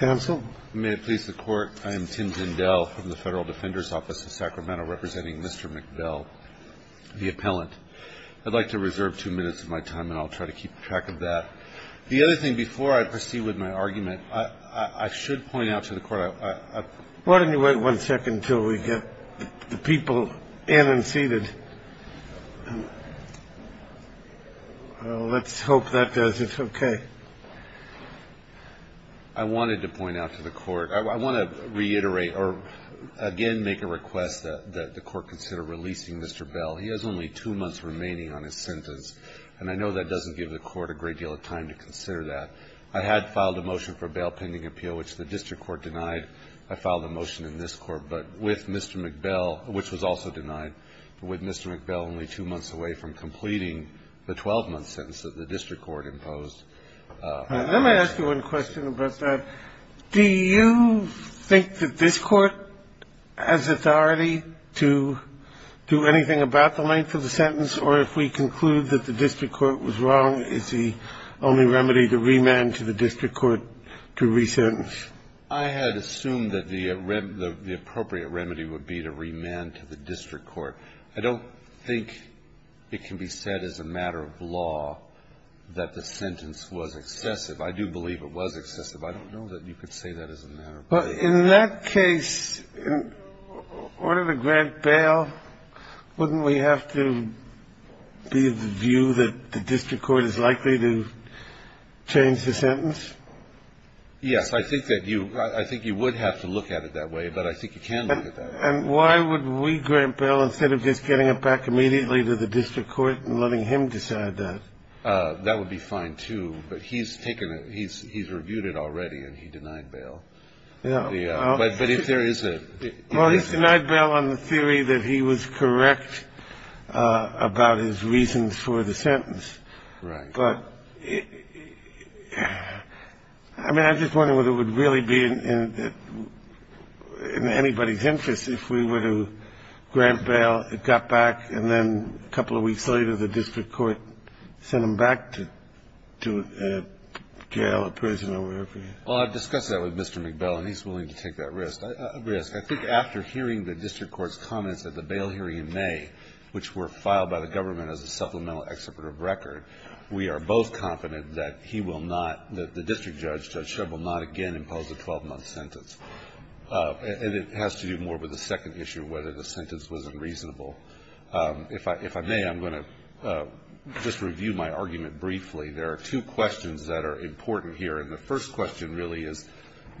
I'd like to reserve two minutes of my time and I'll try to keep track of that. The other thing before I proceed with my argument, I should point out to the court. Why don't you wait one second until we get the people in and seated. Let's hope that does it. Okay. I wanted to point out to the court I want to reiterate or again make a request that the court consider releasing Mr. Bell. He has only two months remaining on his sentence. And I know that doesn't give the court a great deal of time to consider that. I had filed a motion for a bail pending appeal, which the district court denied. I filed a motion in this Court, but with Mr. Miqbel, which was also denied, with Mr. Miqbel only two months away from completing the 12-month sentence that the district court imposed. Let me ask you one question about that. Do you think that this Court has authority to do anything about the length of the sentence, or if we conclude that the district court was wrong, is the only remedy to remand to the district court to resentence? I had assumed that the appropriate remedy would be to remand to the district court. I don't think it can be said as a matter of law that the sentence was excessive. I do believe it was excessive. I don't know that you could say that as a matter of law. Well, in that case, in order to grant bail, wouldn't we have to be of the view that the district court is likely to change the sentence? Yes, I think that you – I think you would have to look at it that way, but I think you can look at that. And why would we grant bail instead of just getting it back immediately to the district court and letting him decide that? That would be fine, too, but he's taken – he's reviewed it already, and he denied bail. But if there is a – Well, he's denied bail on the theory that he was correct about his reasons for the sentence. Right. But, I mean, I'm just wondering whether it would really be in anybody's interest if we were to grant bail, it got back, and then a couple of weeks later the district court sent him back to jail or prison or wherever. Well, I've discussed that with Mr. McBell, and he's willing to take that risk. I think after hearing the district court's comments at the bail hearing in May, which were filed by the government as a supplemental excerpt of record, we are both confident that he will not – that the district judge, Judge Shub, will not again impose a 12-month sentence. And it has to do more with the second issue, whether the sentence was unreasonable. If I may, I'm going to just review my argument briefly. There are two questions that are important here, and the first question really is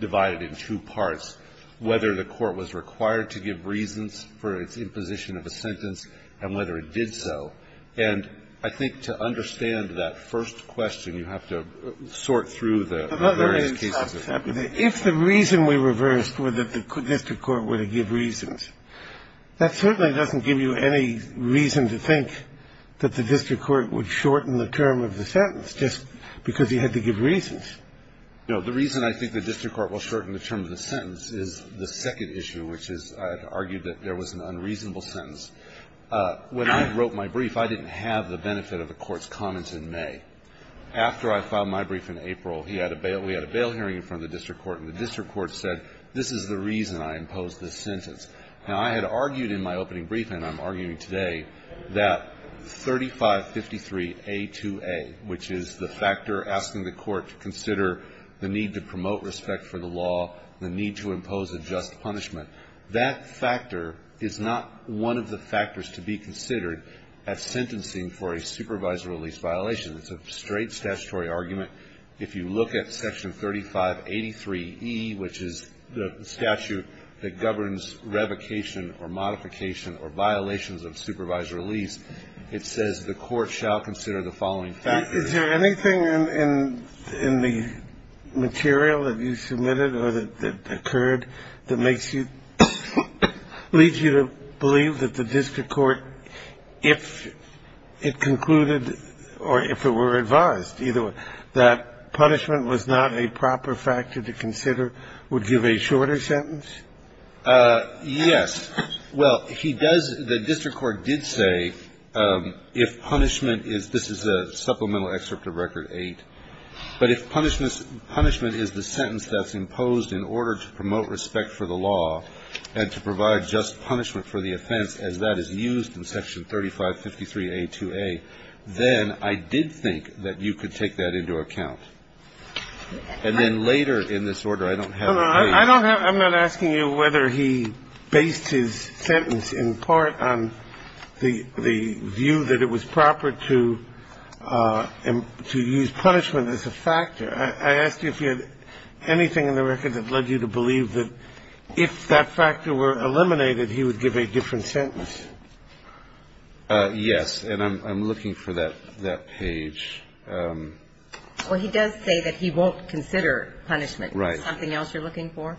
divided in two parts, whether the court was required to give reasons for its imposition of a sentence and whether it did so. And I think to understand that first question, you have to sort through the various cases. If the reason we reversed were that the district court were to give reasons, that certainly doesn't give you any reason to think that the district court would shorten the term of the sentence just because he had to give reasons. No. The reason I think the district court will shorten the term of the sentence is the second issue, which is I had argued that there was an unreasonable sentence. When I wrote my brief, I didn't have the benefit of the Court's comments in May. After I filed my brief in April, he had a bail – we had a bail hearing in front of the district court, and the district court said, this is the reason I imposed this sentence. Now, I had argued in my opening brief, and I'm arguing today, that 3553A2A, which is the factor asking the court to consider the need to promote respect for the law, the need to impose a just punishment, that factor is not one of the factors to be considered at sentencing for a supervisorial lease violation. It's a straight statutory argument. If you look at Section 3583E, which is the statute that governs revocation or modification or violations of supervisorial lease, it says the court shall consider the following factors. Is there anything in the material that you submitted or that occurred that makes you – leads you to believe that the district court, if it concluded or if it were advised, either – that punishment was not a proper factor to consider, would give a shorter sentence? Yes. Well, he does – the district court did say if punishment is – this is a supplemental excerpt of Record 8 – but if punishment is the sentence that's imposed in order to promote respect for the law and to provide just punishment for the offense, as that is used in Section 3553A2A, then I did think that you could take that into account. And then later in this order, I don't have the case. I don't have – I'm not asking you whether he based his sentence in part on the view that it was proper to – to use punishment as a factor. I asked you if you had anything in the record that led you to believe that if that was the sentence. Yes. And I'm looking for that – that page. Well, he does say that he won't consider punishment. Right. Is that something else you're looking for?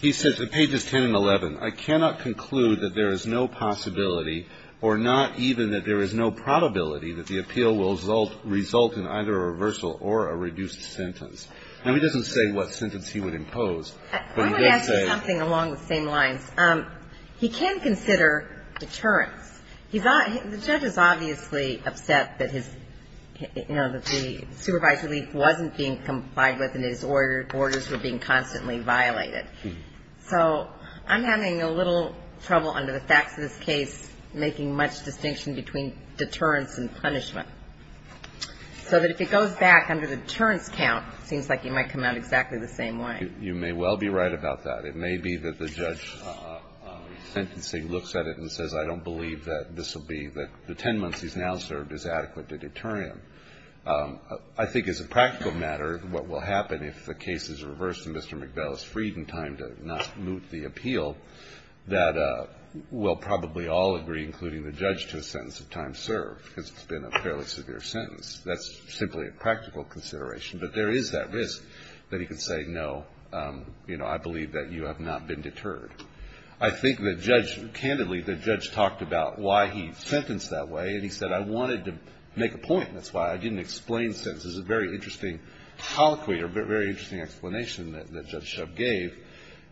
He says – pages 10 and 11. I cannot conclude that there is no possibility or not even that there is no probability that the appeal will result in either a reversal or a reduced sentence. Now, he doesn't say what sentence he would impose, but he does say – He's – the judge is obviously upset that his – you know, that the supervised relief wasn't being complied with and his orders were being constantly violated. So I'm having a little trouble under the facts of this case making much distinction between deterrence and punishment, so that if it goes back under the deterrence count, it seems like it might come out exactly the same way. You may well be right about that. It may be that the judge sentencing looks at it and says, I don't believe that this will be – that the 10 months he's now served is adequate to deter him. I think as a practical matter, what will happen if the case is reversed and Mr. McBell is freed in time to not moot the appeal, that we'll probably all agree, including the judge, to a sentence of time served, because it's been a fairly severe sentence. That's simply a practical consideration. But there is that risk that he could say, no, you know, I believe that you have not been deterred. I think the judge – candidly, the judge talked about why he sentenced that way, and he said, I wanted to make a point. That's why I didn't explain sentences. It's a very interesting colloquy or very interesting explanation that Judge Shub gave.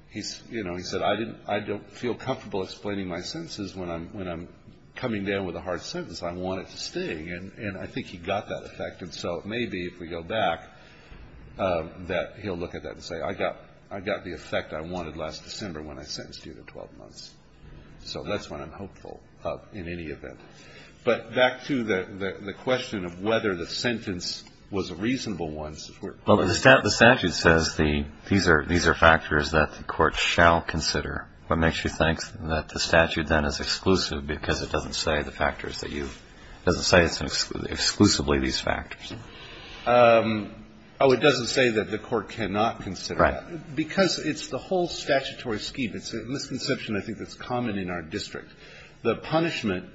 He's – you know, he said, I didn't – I don't feel comfortable explaining my sentences when I'm coming down with a hard sentence. I want it to sting. And I think he got that effect. And so it may be, if we go back, that he'll look at that and say, I got the effect I wanted last December when I sentenced you to 12 months. So that's what I'm hopeful of in any event. But back to the question of whether the sentence was a reasonable one. Well, the statute says the – these are factors that the court shall consider. What makes you think that the statute then is exclusive because it doesn't say the factors that you – it doesn't say it's exclusively these factors. Oh, it doesn't say that the court cannot consider that. Right. Because it's the whole statutory scheme. It's a misconception, I think, that's common in our district. The punishment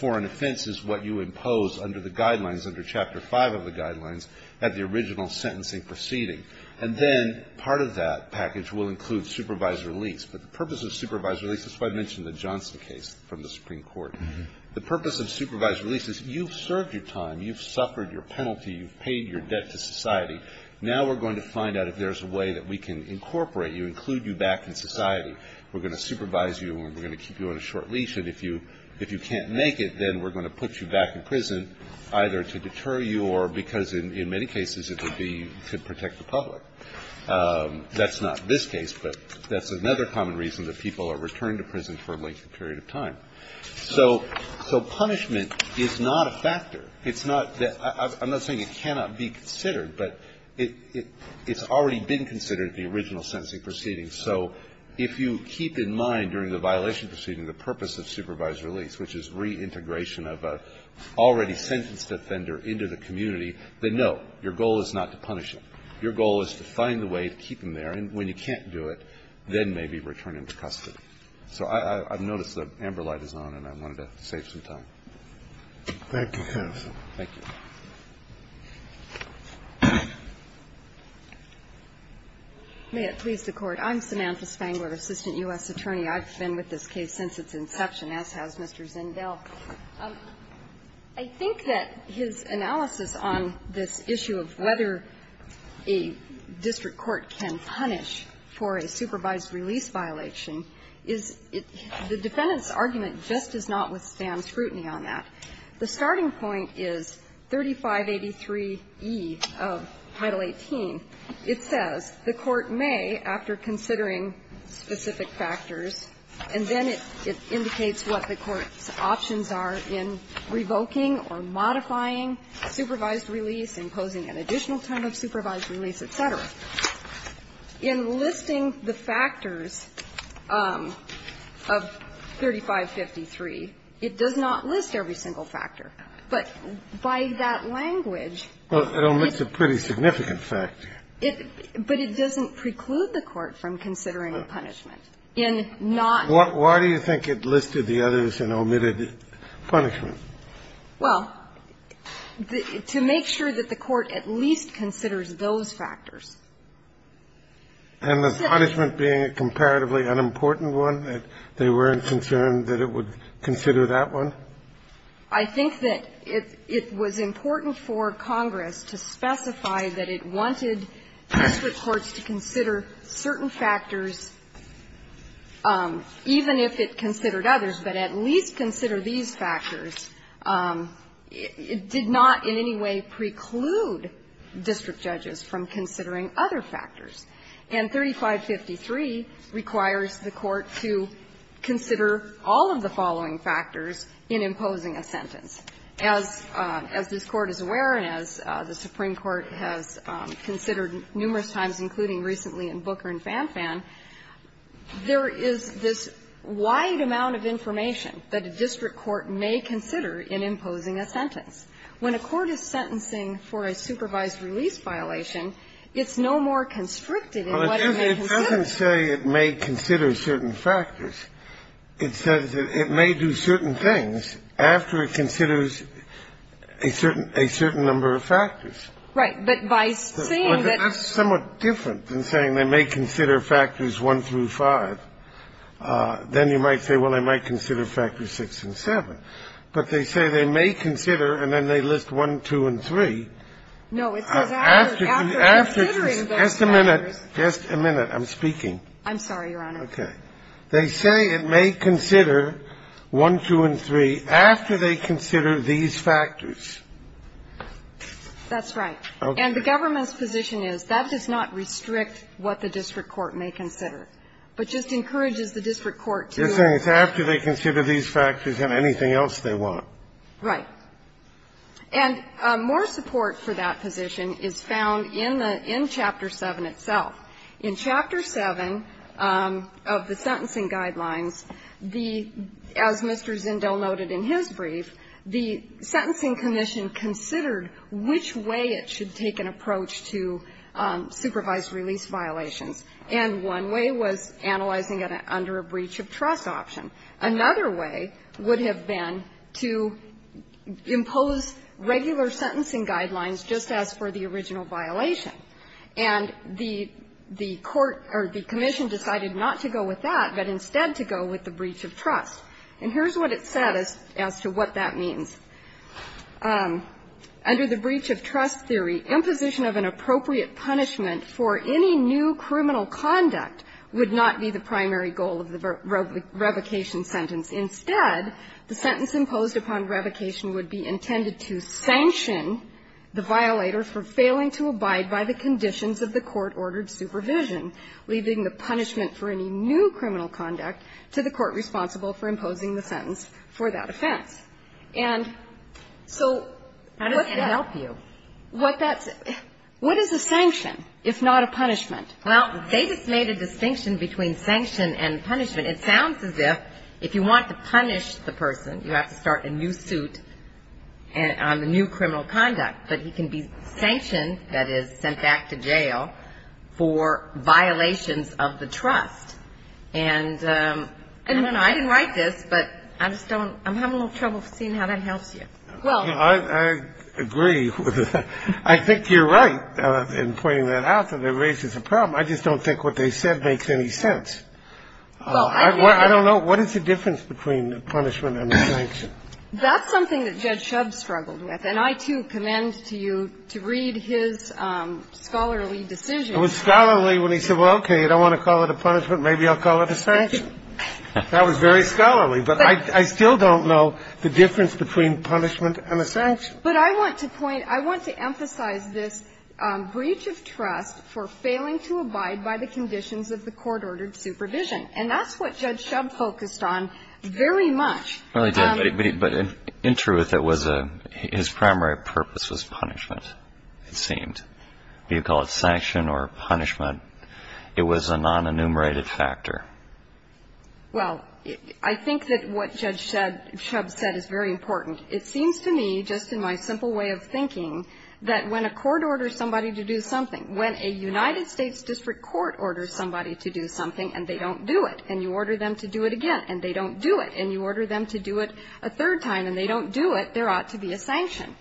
for an offense is what you impose under the guidelines, under Chapter 5 of the guidelines, at the original sentencing proceeding. And then part of that package will include supervised release. But the purpose of supervised release – that's why I mentioned the Johnson case from the Supreme Court. The purpose of supervised release is you've served your time, you've suffered your penalty, you've paid your debt to society. Now we're going to find out if there's a way that we can incorporate you, include you back in society. We're going to supervise you and we're going to keep you on a short leash. And if you can't make it, then we're going to put you back in prison, either to deter you or because in many cases it would be to protect the public. That's not this case, but that's another common reason that people are returned to prison for a lengthy period of time. So punishment is not a factor. It's not that – I'm not saying it cannot be considered, but it's already been considered at the original sentencing proceeding. So if you keep in mind during the violation proceeding the purpose of supervised release, which is reintegration of an already sentenced offender into the community, then no, your goal is not to punish him. Your goal is to find a way to keep him there. And when you can't do it, then maybe return him to custody. So I've noticed the amber light is on and I wanted to save some time. Thank you, counsel. Thank you. May it please the Court. I'm Samantha Spangler, assistant U.S. attorney. I've been with this case since its inception, as has Mr. Zindel. I think that his analysis on this issue of whether a district court can punish for a supervised release violation is – the defendant's argument just does not withstand scrutiny on that. The starting point is 3583e of Title 18. It says the court may, after considering specific factors, and then it indicates what the court's options are in revoking or modifying supervised release, imposing an additional term of supervised release, et cetera. In listing the factors of 3553, it does not list every single factor. But by that language – Well, it omits a pretty significant factor. But it doesn't preclude the court from considering punishment in not – Why do you think it listed the others and omitted punishment? Well, to make sure that the court at least considers those factors. And the punishment being a comparatively unimportant one, that they weren't concerned that it would consider that one? I think that it was important for Congress to specify that it wanted district courts to consider certain factors, even if it considered others, but at least consider these factors. It did not in any way preclude district judges from considering other factors. And 3553 requires the court to consider all of the following factors in imposing a sentence. As this Court is aware and as the Supreme Court has considered numerous times, including recently in Booker and Fanfan, there is this wide amount of information that a district court may consider in imposing a sentence. When a court is sentencing for a supervised release violation, it's no more constricted in what it may consider. Well, it doesn't say it may consider certain factors. It says that it may do certain things after it considers a certain number of factors. Right. But by saying that – But that's somewhat different than saying they may consider factors 1 through 5. Then you might say, well, I might consider factors 6 and 7. But they say they may consider, and then they list 1, 2, and 3. No. It says after considering those factors. Just a minute. Just a minute. I'm speaking. I'm sorry, Your Honor. Okay. They say it may consider 1, 2, and 3 after they consider these factors. That's right. And the government's position is that does not restrict what the district court may consider, but just encourages the district court to – They're saying it's after they consider these factors and anything else they want. Right. And more support for that position is found in the – in Chapter 7 itself. In Chapter 7 of the sentencing guidelines, the – as Mr. Zindel noted in his brief, the Sentencing Commission considered which way it should take an approach to supervised release violations. And one way was analyzing it under a breach of trust option. Another way would have been to impose regular sentencing guidelines just as for the original violation. And the court – or the commission decided not to go with that, but instead to go with the breach of trust. And here's what it said as to what that means. Under the breach of trust theory, imposition of an appropriate punishment for any new criminal conduct would not be the primary goal of the revocation sentence. Instead, the sentence imposed upon revocation would be intended to sanction the violator for failing to abide by the conditions of the court-ordered supervision, leaving the punishment for any new criminal conduct to the court responsible for imposing the sentence for that offense. And so – How does that help you? What that – what is a sanction, if not a punishment? Well, they just made a distinction between sanction and punishment. It sounds as if if you want to punish the person, you have to start a new suit on the new criminal conduct. But he can be sanctioned, that is, sent back to jail for violations of the trust. And I don't know. I didn't write this, but I just don't – I'm having a little trouble seeing how that helps you. Well – I agree. I think you're right in pointing that out that it raises a problem. I just don't think what they said makes any sense. Well, I – I don't know. What is the difference between a punishment and a sanction? That's something that Judge Shub struggled with. And I, too, commend to you to read his scholarly decision. It was scholarly when he said, well, okay, I don't want to call it a punishment. Maybe I'll call it a sanction. That was very scholarly. But I still don't know the difference between punishment and a sanction. But I want to point – I want to emphasize this breach of trust for failing to abide by the conditions of the court-ordered supervision. And that's what Judge Shub focused on very much. Well, he did. But in truth, it was a – his primary purpose was punishment, it seemed. Do you call it sanction or punishment? It was a non-enumerated factor. Well, I think that what Judge Shub said is very important. It seems to me, just in my simple way of thinking, that when a court orders somebody to do something, when a United States district court orders somebody to do something and they don't do it, and you order them to do it again and they don't do it, and you order them to do it a third time and they don't do it, there ought to be a sanction.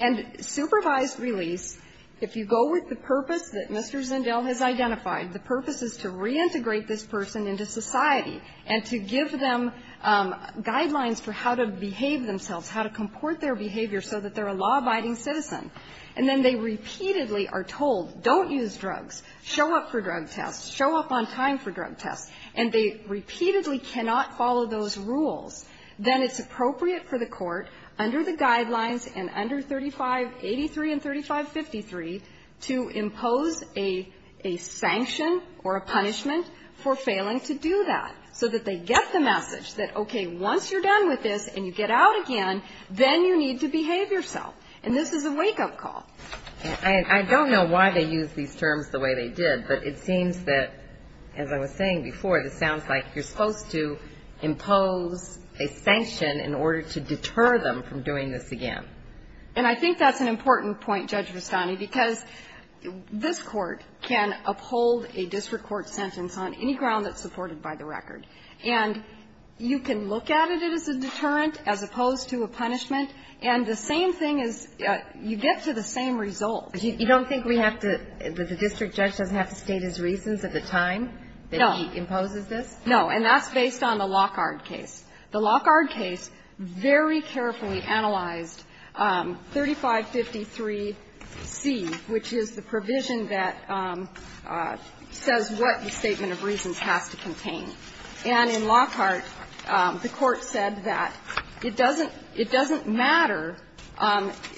And supervised release, if you go with the purpose that Mr. Zindel has identified, the purpose is to reintegrate this person into society and to give them guidelines for how to behave themselves, how to comport their behavior so that they're a law-abiding citizen, and then they repeatedly are told, don't use drugs, show up for drug tests, show up on time for drug tests, and they repeatedly cannot follow those rules, then it's appropriate for the court, under the guidelines and under 3583 and 3553, to impose a sanction or a punishment for failing to do that, so that they get the message that, okay, once you're done with this and you get out again, then you need to behave yourself, and this is a wake-up call. I don't know why they use these terms the way they did, but it seems that, as I was saying, there is a need for a sanction in order to deter them from doing this again. And I think that's an important point, Judge Vestani, because this Court can uphold a district court sentence on any ground that's supported by the record. And you can look at it as a deterrent as opposed to a punishment, and the same thing is, you get to the same result. You don't think we have to, that the district judge doesn't have to state his reasons at the time that he imposes this? No. And that's based on the Lockhart case. The Lockhart case very carefully analyzed 3553C, which is the provision that says what the statement of reasons has to contain. And in Lockhart, the Court said that it doesn't matter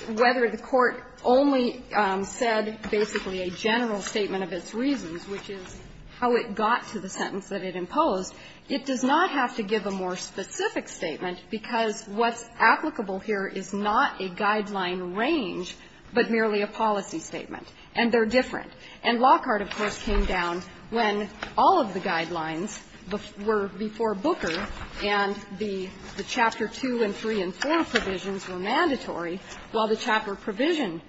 whether the Court only said basically a general statement of its reasons, which is how it got to the sentence that it imposed. It does not have to give a more specific statement, because what's applicable here is not a guideline range, but merely a policy statement. And they're different. And Lockhart, of course, came down when all of the guidelines were before Booker and the Chapter 2 and 3 and 4 provisions were mandatory, while the Chapter provision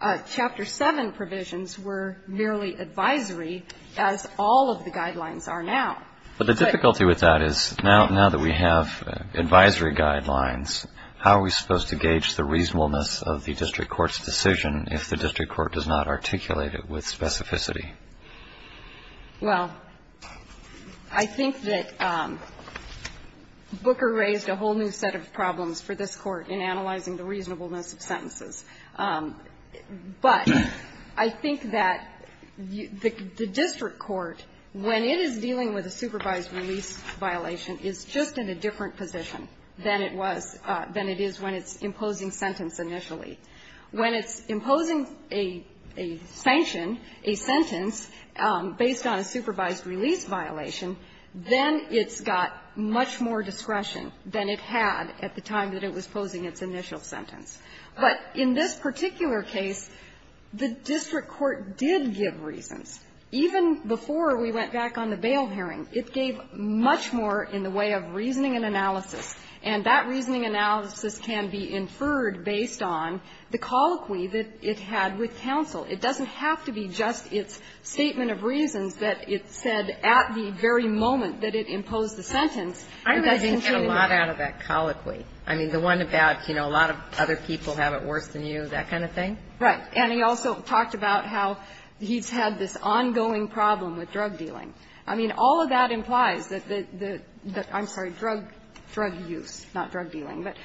and Chapter 7 provisions were merely advisory, as all of the guidelines are now. But the difficulty with that is, now that we have advisory guidelines, how are we supposed to gauge the reasonableness of the district court's decision if the district court does not articulate it with specificity? Well, I think that Booker raised a whole new set of problems for this Court in analyzing the reasonableness of sentences. But I think that the district court, when it is dealing with a supervised release violation, is just in a different position than it was or than it is when it's imposing sentence initially. When it's imposing a sanction, a sentence, based on a supervised release violation, then it's got much more discretion than it had at the time that it was posing its initial sentence. But in this particular case, the district court did give reasons. Even before we went back on the bail hearing, it gave much more in the way of reasoning and analysis. And that reasoning analysis can be inferred based on the colloquy that it had with counsel. It doesn't have to be just its statement of reasons that it said at the very moment that it imposed the sentence. And that's entirely fine. I'm imagining it had a lot out of that colloquy. I mean, the one about, you know, a lot of other people have it worse than you, that kind of thing? Right. And he also talked about how he's had this ongoing problem with drug dealing. I mean, all of that implies that the – I'm sorry, drug use, not drug dealing. But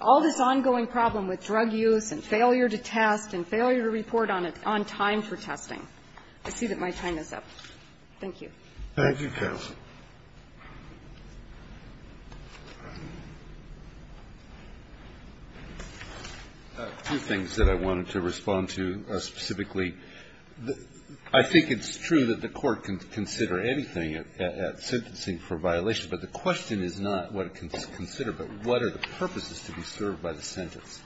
all this ongoing problem with drug use and failure to test and failure to report on time for testing. I see that my time is up. Thank you. Thank you, counsel. Two things that I wanted to respond to specifically. I think it's true that the Court can consider anything at sentencing for violation, but the question is not what it can consider, but what are the purposes to be served by the sentence.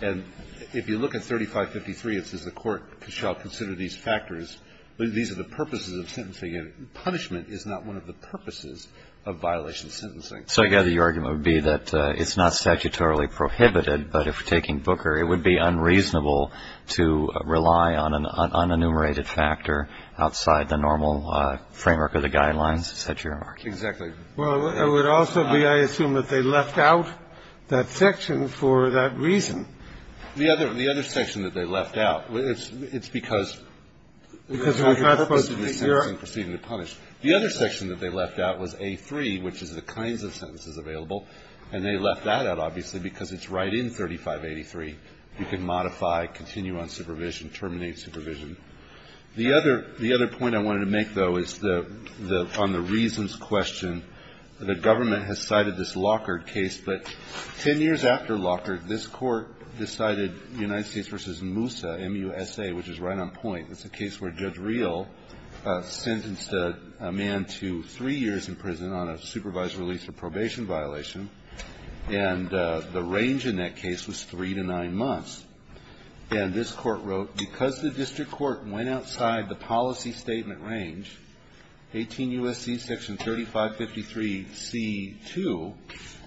And if you look at 3553, it says the Court shall consider these factors. These are the purposes of sentencing. And punishment is not one of the purposes of violation of sentencing. So, again, the argument would be that it's not statutorily prohibited, but if we're taking Booker, it would be unreasonable to rely on an unenumerated factor outside the normal framework of the guidelines? Is that your remark? Exactly. Well, it would also be, I assume, that they left out that section for that reason. The other section that they left out, it's because of the purpose of the sentence and proceeding to punish. The other section that they left out was A3, which is the kinds of sentences available, and they left that out, obviously, because it's right in 3583. You can modify, continue on supervision, terminate supervision. The other point I wanted to make, though, is on the reasons question. The government has cited this Lockard case, but ten years after Lockard, this court decided United States v. Moussa, M-U-S-A, which is right on point. It's a case where Judge Real sentenced a man to three years in prison on a supervised release or probation violation, and the range in that case was three to nine months. And this court wrote, because the district court went outside the policy statement range, 18 U.S.C. section 3553 C2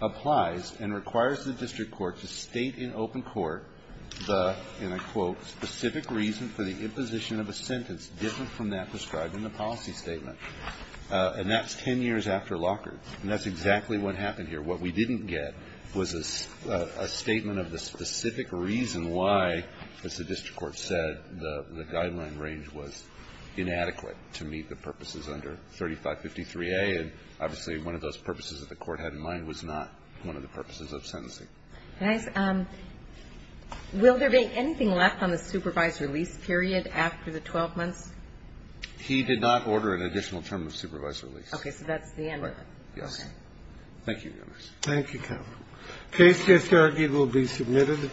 applies and requires the district court to state in open court the, and I quote, specific reason for the imposition of a sentence different from that prescribed in the policy statement. And that's ten years after Lockard. And that's exactly what happened here. What we didn't get was a statement of the specific reason why, as the district court said, the guideline range was inadequate to meet the purposes under 3553A. And obviously, one of those purposes that the court had in mind was not one of the purposes of sentencing. Can I ask, will there be anything left on the supervised release period after the 12 months? He did not order an additional term of supervised release. Okay. So that's the end of it. Right. Yes. Okay. Thank you, Your Honor. Thank you, counsel. The case just argued will be submitted.